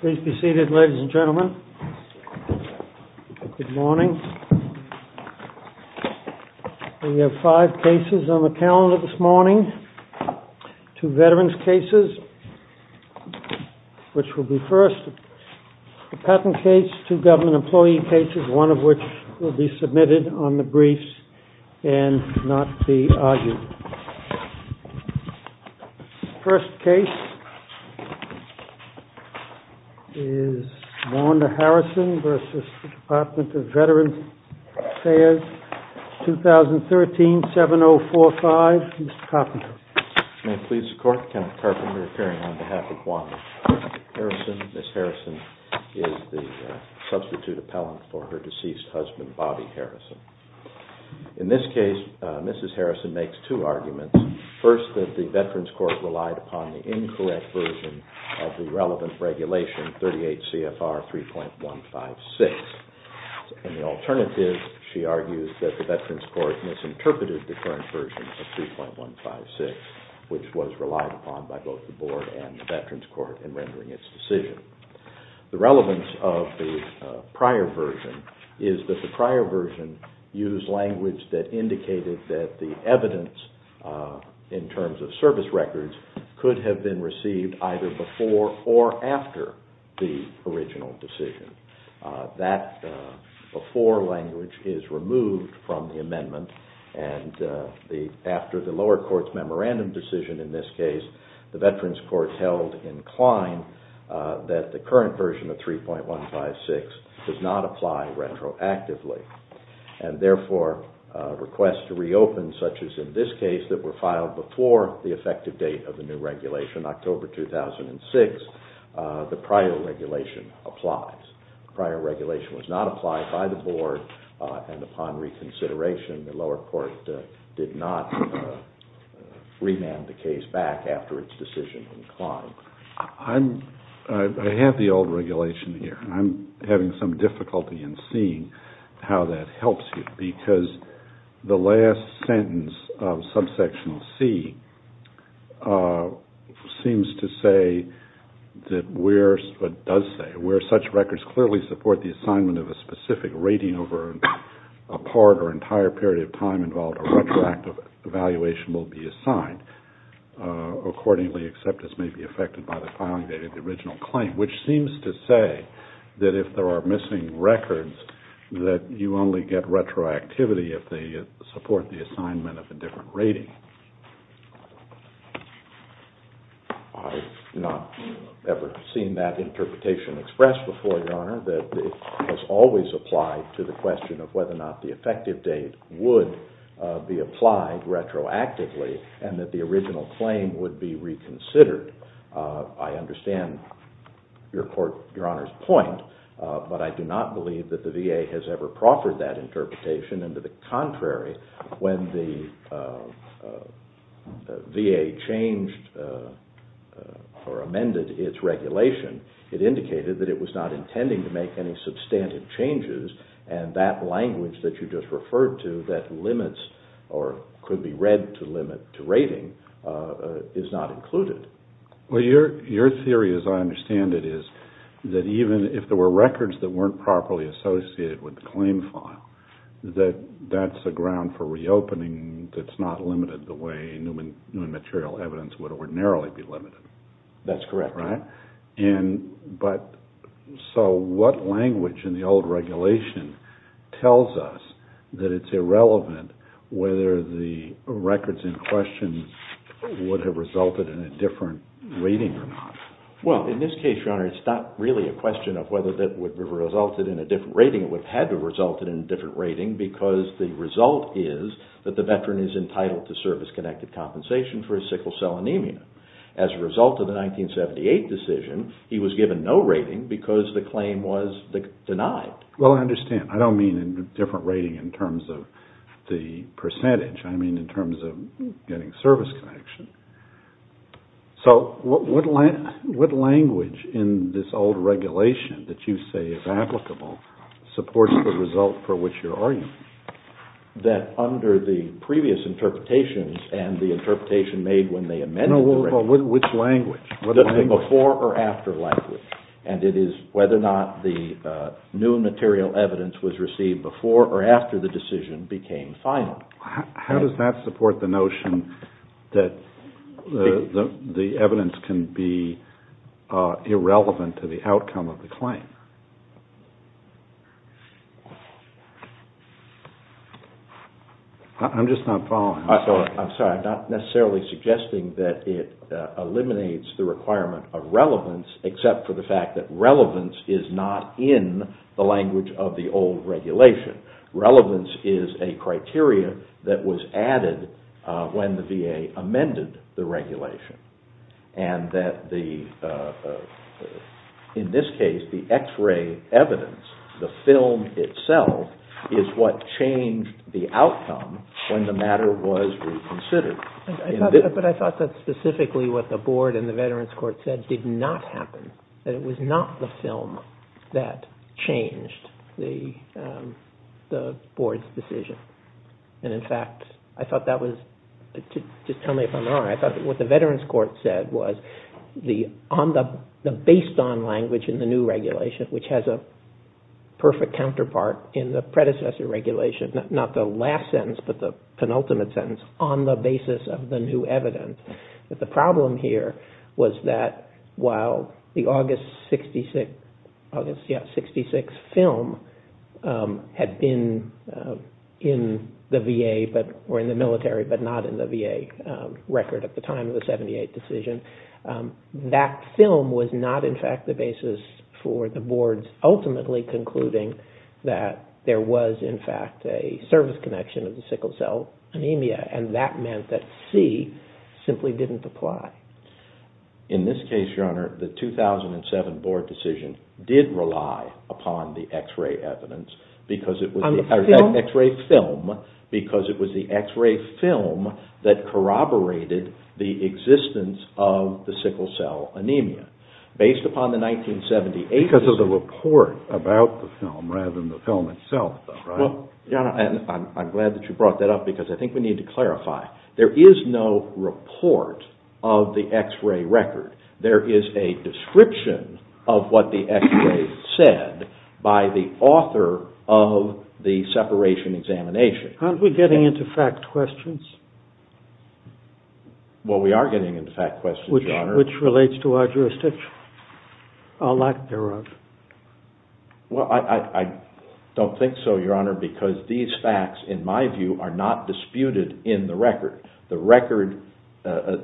Please be seated, ladies and gentlemen. Good morning. We have five cases on the calendar this morning, two veterans' cases, which will be first. The patent case, two government First case is Wanda Harrison v. Department of Veterans Affairs, 2013-7045. Mr. Carpenter. May it please the Court, Kenneth Carpenter appearing on behalf of Wanda Harrison. Ms. Harrison is the substitute appellant for her deceased husband, Bobby Harrison. In this case, Ms. Harrison makes two arguments. First, that the Veterans Court relied upon the incorrect version of the relevant regulation, 38 CFR 3.156. In the alternative, she argues that the Veterans Court misinterpreted the current version of 3.156, which was relied upon by both the Board and the Veterans Court in rendering its decision. The relevance of the prior version is that the prior version used language that indicated that the evidence, in terms of service records, could have been received either before or after the original decision. That before language is removed from the amendment, and after the lower court's memorandum decision in this case, the Veterans Court held inclined that the current version of 3.156 does not apply retroactively. Therefore, requests to reopen, such as in this case, that were filed before the effective date of the new regulation, October 2006, the prior regulation applies. The prior regulation was not applied by the Board, and upon reconsideration, the lower court did not remand the case back after its decision inclined. I have the old regulation here, and I'm having some difficulty in seeing how that helps you, because the last sentence of subsection C seems to say, but does say, where such records clearly support the assignment of a specific rating over a part or entire period of time involved, a retroactive evaluation will be assigned accordingly, except as may be affected by the filing date of the original claim, which seems to say that if there are missing records, that you only get retroactivity if they support the assignment of a different rating. I've not ever seen that interpretation expressed before, Your Honor, that it has always applied to the question of whether or not the effective date would be applied retroactively, and that the original claim would be reconsidered. I understand Your Honor's point, but I do not believe that the VA has ever proffered that interpretation, and to the contrary, when the VA changed or amended its regulation, it indicated that it was not intending to make any substantive changes, and that language that you just referred to, that limits or could be read to limit to rating, is not included. Your theory, as I understand it, is that even if there were records that weren't properly associated with the claim file, that that's a ground for reopening that's not limited the way new material evidence would ordinarily be limited. That's correct, Your Honor. So what language in the old regulation tells us that it's irrelevant whether the records in question would have resulted in a different rating or not? Well, in this case, Your Honor, it's not really a question of whether that would have resulted in a different rating. It would have had to have resulted in a different rating because the result is that the veteran is entitled to service-connected compensation for his sickle cell anemia. As a result of the 1978 decision, he was given no rating because the claim was denied. Well, I understand. I don't mean a different rating in terms of the percentage. I mean in terms of getting service connection. So what language in this old regulation that you say is applicable supports the result for which you're arguing? That under the previous interpretations and the interpretation made when they amended the regulation... Which language? The before or after language. And it is whether or not the new material evidence was received before or after the decision became final. How does that support the notion that the evidence can be irrelevant to the outcome of the claim? I'm just not following. I'm sorry. I'm not necessarily suggesting that it eliminates the requirement of relevance except for the fact that relevance is not in the language of the old regulation. Relevance is a criteria that was added when the VA amended the regulation. And that in this case, the x-ray evidence, the film itself, is what changed the outcome when the matter was reconsidered. But I thought that specifically what the board and the veterans court said did not happen. That it was not the film that changed the board's decision. And in fact, I thought that was... Just tell me if I'm wrong. I thought what the veterans court said was the based on language in the new regulation, which has a perfect counterpart in the predecessor regulation, not the last sentence but the penultimate sentence, on the basis of the new evidence. But the problem here was that while the August 66 film had been in the VA or in the military but not in the VA record at the time of the 78 decision, that film was not in fact the basis for the board's ultimately concluding that there was in fact a service connection of the sickle cell anemia. And that meant that C simply didn't apply. In this case, Your Honor, the 2007 board decision did rely upon the x-ray evidence because it was the x-ray film that corroborated the existence of the sickle cell anemia. Based upon the 1978 decision... Because of the report about the film rather than the film itself, though, right? I'm glad that you brought that up because I think we need to clarify. There is no report of the x-ray record. There is a description of what the x-ray said by the author of the separation examination. Aren't we getting into fact questions? Well, we are getting into fact questions, Your Honor. Which relates to our jurisdiction. Our lack thereof. Well, I don't think so, Your Honor, because these facts, in my view, are not disputed in the record.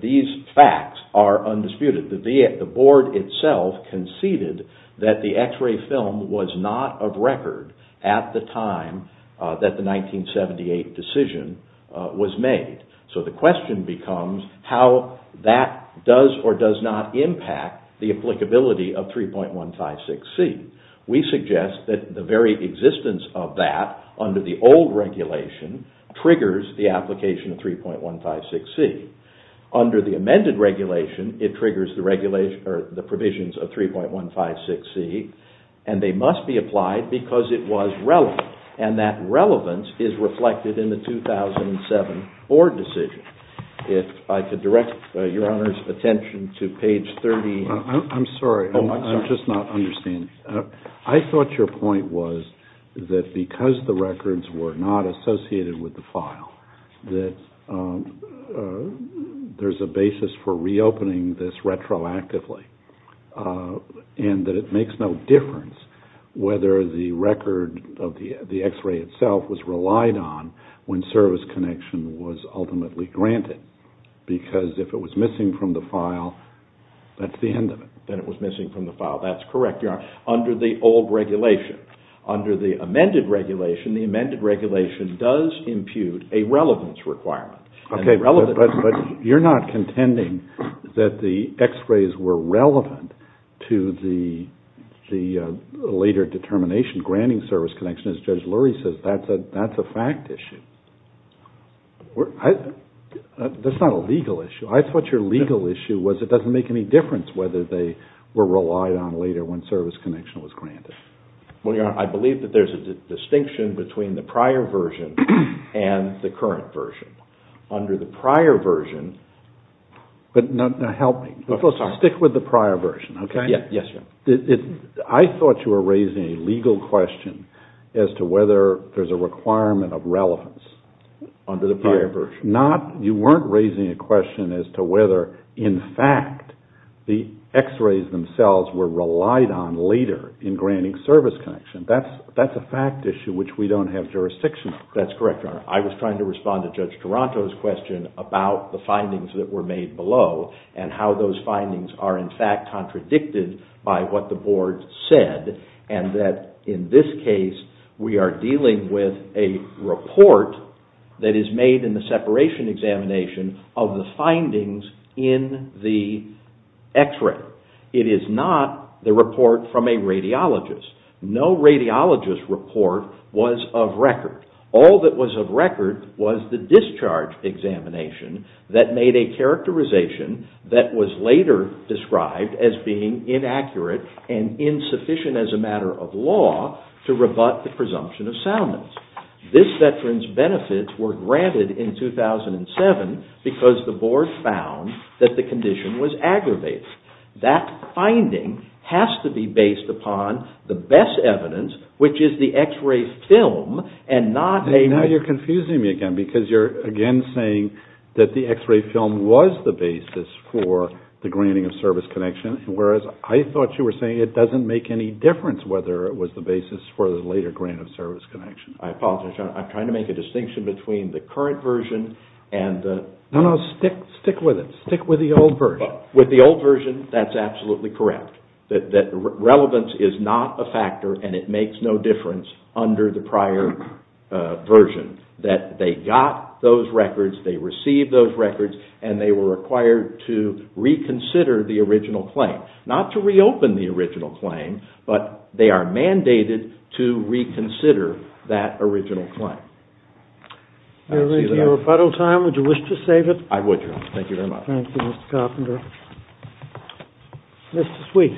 These facts are undisputed. The board itself conceded that the x-ray film was not of record at the time that the 1978 decision was made. So the question becomes how that does or does not impact the applicability of 3.156C. We suggest that the very existence of that under the old regulation triggers the application of 3.156C. Under the amended regulation, it triggers the provisions of 3.156C, and they must be applied because it was relevant, and that relevance is reflected in the 2007 board decision. If I could direct Your Honor's attention to page 38. I'm sorry. I'm just not understanding. I thought your point was that because the records were not associated with the file, that there's a basis for reopening this retroactively, and that it makes no difference whether the record of the x-ray itself was relied on when service connection was ultimately granted. Because if it was missing from the file, that's the end of it. Then it was missing from the file. That's correct, Your Honor, under the old regulation. Under the amended regulation, the amended regulation does impute a relevance requirement. Okay, but you're not contending that the x-rays were relevant to the later determination granting service connection. As Judge Lurie says, that's a fact issue. That's not a legal issue. I thought your legal issue was it doesn't make any difference whether they were relied on later when service connection was granted. Well, Your Honor, I believe that there's a distinction between the prior version and the current version. Under the prior version... Help me. Stick with the prior version, okay? Yes, Your Honor. I thought you were raising a legal question as to whether there's a requirement of relevance under the prior version. You weren't raising a question as to whether, in fact, the x-rays themselves were relied on later in granting service connection. That's a fact issue which we don't have jurisdiction on. That's correct, Your Honor. I was trying to respond to Judge Taranto's question about the findings that were made below and how those findings are, in fact, contradicted by what the board said. In this case, we are dealing with a report that is made in the separation examination of the findings in the x-ray. It is not the report from a radiologist. No radiologist report was of record. All that was of record was the discharge examination that made a characterization that was later described as being inaccurate and insufficient as a matter of law to rebut the presumption of soundness. This veteran's benefits were granted in 2007 because the board found that the condition was aggravated. That finding has to be based upon the best evidence, which is the x-ray film and not a... I apologize, Your Honor. I'm trying to make a distinction between the current version and the... No, no. Stick with it. Stick with the old version. With the old version, that's absolutely correct. That relevance is not a factor and it makes no difference under the prior version. They got those records, they received those records, and they were required to reconsider the original claim. Not to reopen the original claim, but they are mandated to reconsider that original claim. Your Honor, if you have a final time, would you wish to save it? I would, Your Honor. Thank you very much. Thank you, Mr. Carpenter. Mr. Sweet.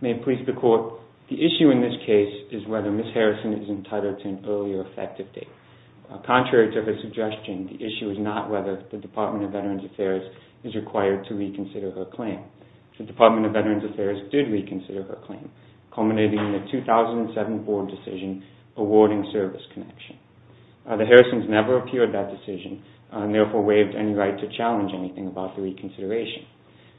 May it please the Court, the issue in this case is whether Ms. Harrison is entitled to an earlier effective date. Contrary to her suggestion, the issue is not whether the Department of Veterans Affairs is required to reconsider her claim. The Department of Veterans Affairs did reconsider her claim, culminating in a 2007 board decision awarding service connection. The Harrisons never appeared at that decision and therefore waived any right to challenge anything about the reconsideration.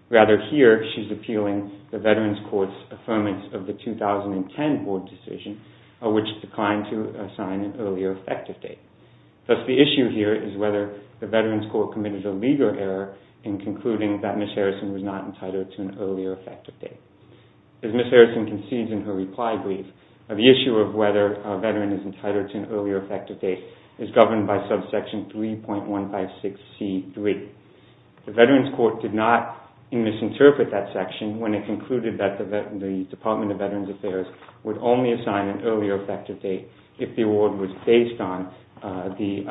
Rather, here, she's appealing the Veterans Court's affirmance of the 2010 board decision, which declined to assign an earlier effective date. Thus, the issue here is whether the Veterans Court committed a legal error in concluding that Ms. Harrison was not entitled to an earlier effective date. As Ms. Harrison concedes in her reply brief, the issue of whether a veteran is entitled to an earlier effective date is governed by subsection 3.156C3. The Veterans Court did not misinterpret that section when it concluded that the Department of Veterans Affairs would only assign an earlier effective date if the award was based on the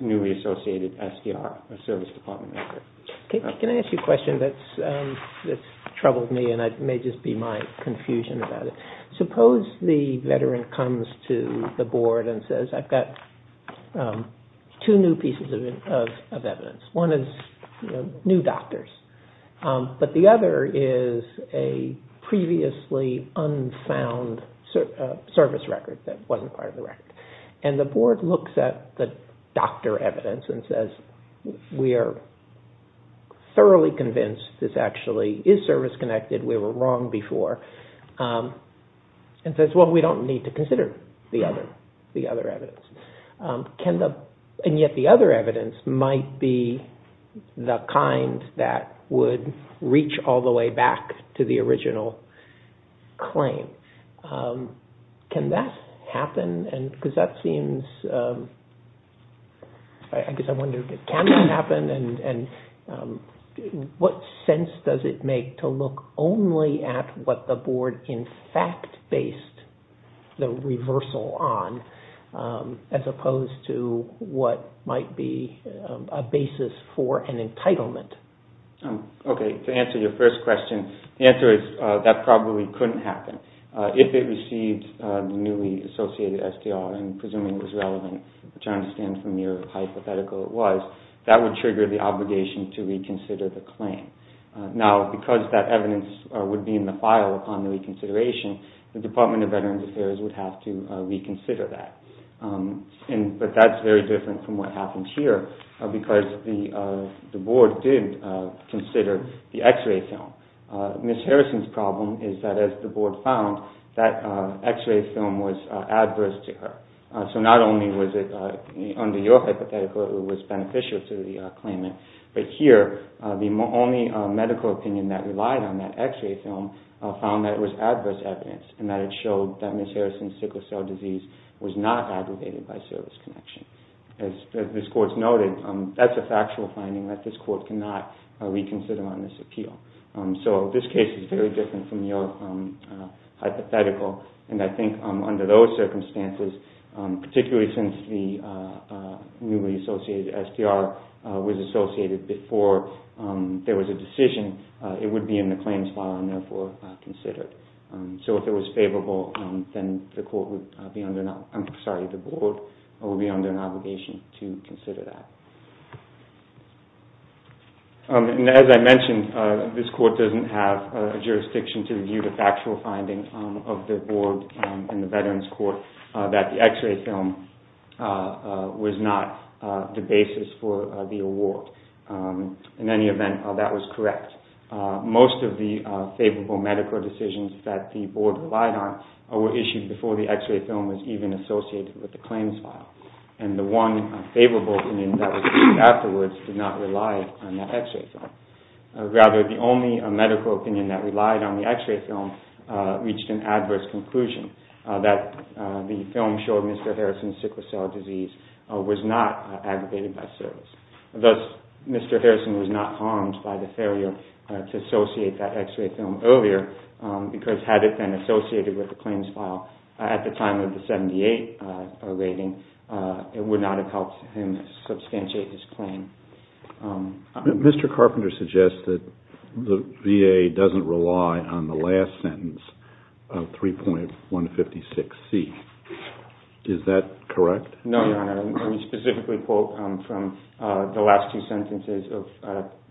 newly associated SDR, a service department record. Can I ask you a question that's troubled me and may just be my confusion about it? Suppose the veteran comes to the board and says, I've got two new pieces of evidence. One is new doctors, but the other is a previously unfound service record that wasn't part of the record. And the board looks at the doctor evidence and says, we are thoroughly convinced this actually is service-connected. We were wrong before. And says, well, we don't need to consider the other evidence. And yet the other evidence might be the kind that would reach all the way back to the original claim. Can that happen? I guess I wonder, can that happen? And what sense does it make to look only at what the board in fact based the reversal on, as opposed to what might be a basis for an entitlement? Okay, to answer your first question, the answer is that probably couldn't happen. If it received the newly associated SDR, and presuming it was relevant, which I understand from your hypothetical it was, that would trigger the obligation to reconsider the claim. Now, because that evidence would be in the file upon the reconsideration, the Department of Veterans Affairs would have to reconsider that. But that's very different from what happened here, because the board did consider the x-ray film. Ms. Harrison's problem is that as the board found, that x-ray film was adverse to her. So not only was it, under your hypothetical, it was beneficial to the claimant, but here the only medical opinion that relied on that x-ray film found that it was adverse evidence, and that it showed that Ms. Harrison's sickle cell disease was not aggregated by service connection. As this court's noted, that's a factual finding that this court cannot reconsider on this appeal. So this case is very different from your hypothetical, and I think under those circumstances, particularly since the newly associated SDR was associated before there was a decision, it would be in the claims file and therefore considered. So if it was favorable, then the board would be under an obligation to consider that. As I mentioned, this court doesn't have a jurisdiction to view the factual findings of the board and the Veterans Court that the x-ray film was not the basis for the award. In any event, that was correct. Most of the favorable medical decisions that the board relied on were issued before the x-ray film was even associated with the claims file, and the one favorable opinion that was issued afterwards did not rely on that x-ray film. Rather, the only medical opinion that relied on the x-ray film reached an adverse conclusion, that the film showed Mr. Harrison's sickle cell disease was not aggregated by service. Thus, Mr. Harrison was not harmed by the failure to associate that x-ray film earlier because had it been associated with the claims file at the time of the 78 rating, it would not have helped him substantiate his claim. Mr. Carpenter suggests that the VA doesn't rely on the last sentence of 3.156C. Is that correct? No, Your Honor. We specifically quote from the last two sentences of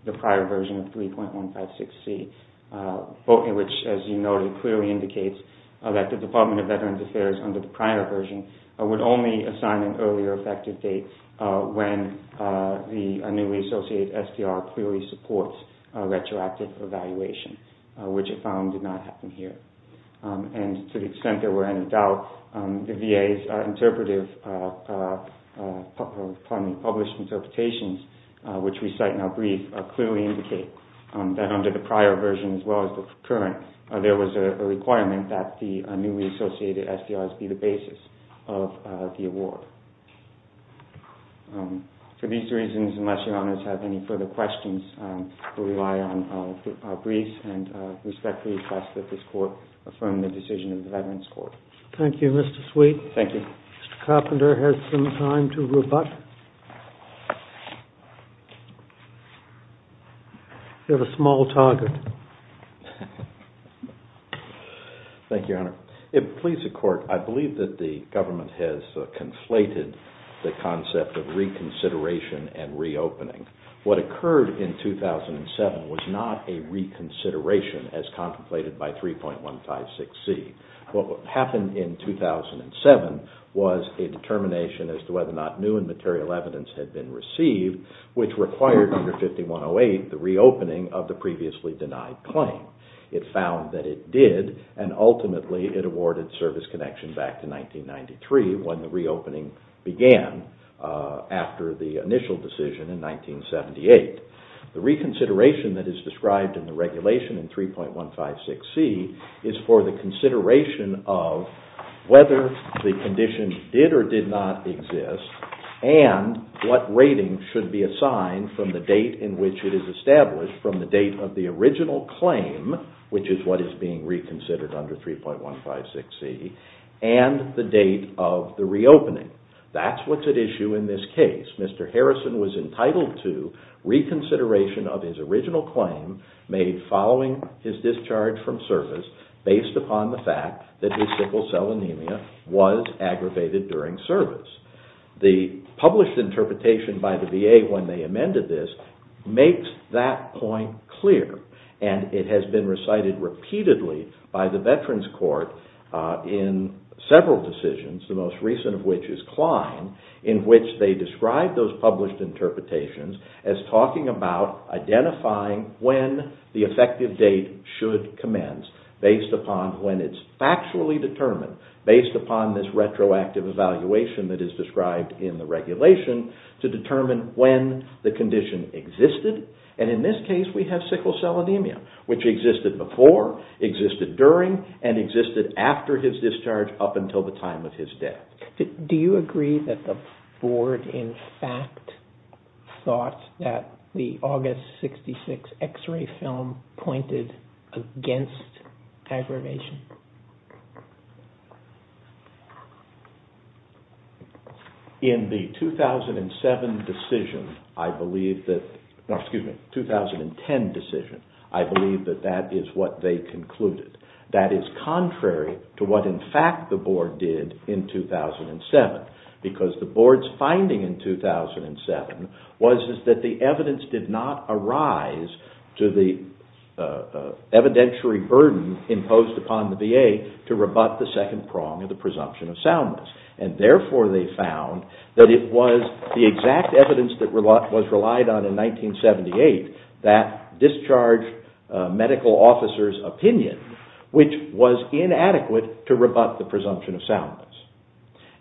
the prior version of 3.156C, which, as you noted, clearly indicates that the Department of Veterans Affairs, under the prior version, would only assign an earlier effective date when the newly associated SDR clearly supports a retroactive evaluation, which it found did not happen here. To the extent there were any doubt, the VA's published interpretations, which we cite in our brief, clearly indicate that under the prior version, as well as the current, there was a requirement that the newly associated SDRs be the basis of the award. For these reasons, unless Your Honors have any further questions, we rely on our briefs and respectfully request that this Court affirm the decision of the Veterans Court. Thank you, Mr. Sweet. Thank you. Mr. Carpenter has some time to rebut. You have a small target. Thank you, Your Honor. If it pleases the Court, I believe that the government has conflated the concept of reconsideration and reopening. What occurred in 2007 was not a reconsideration as contemplated by 3.156C. What happened in 2007 was a determination as to whether or not new and material evidence had been received, which required under 5108 the reopening of the previously denied claim. It found that it did, and ultimately it awarded service connection back to 1993 when the reopening began after the initial decision in 1978. The reconsideration that is described in the regulation in 3.156C is for the consideration of whether the condition did or did not exist and what rating should be assigned from the date in which it is established, from the date of the original claim, which is what is being reconsidered under 3.156C, and the date of the reopening. That's what's at issue in this case. Mr. Harrison was entitled to reconsideration of his original claim made following his discharge from service based upon the fact that his sickle cell anemia was aggravated during service. The published interpretation by the VA when they amended this makes that point clear, and it has been recited repeatedly by the Veterans Court in several decisions, the most recent of which is Klein, in which they describe those published interpretations as talking about identifying when the effective date should commence based upon when it's factually determined, based upon this retroactive evaluation that is described in the regulation to determine when the condition existed. And in this case we have sickle cell anemia, which existed before, existed during, and existed after his discharge up until the time of his death. Do you agree that the Board in fact thought that the August 66 x-ray film pointed against aggravation? In the 2007 decision, excuse me, 2010 decision, I believe that that is what they concluded. That is contrary to what in fact the Board did in 2007, because the Board's finding in 2007 was that the evidence did not arise to the evidentiary burden imposed upon the VA to rebut the second prong of the presumption of soundness. And therefore they found that it was the exact evidence that was relied on in 1978 that discharged medical officers' opinion, which was inadequate to rebut the presumption of soundness.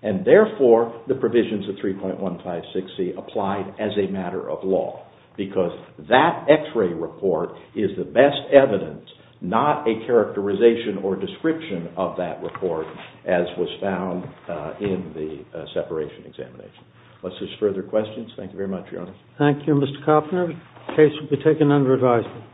And therefore the provisions of 3.156C applied as a matter of law, because that x-ray report is the best evidence, not a characterization or description of that report as was found in the separation examination. Unless there are further questions, thank you very much, Your Honor. Thank you, Mr. Koppner. The case will be taken under advisement.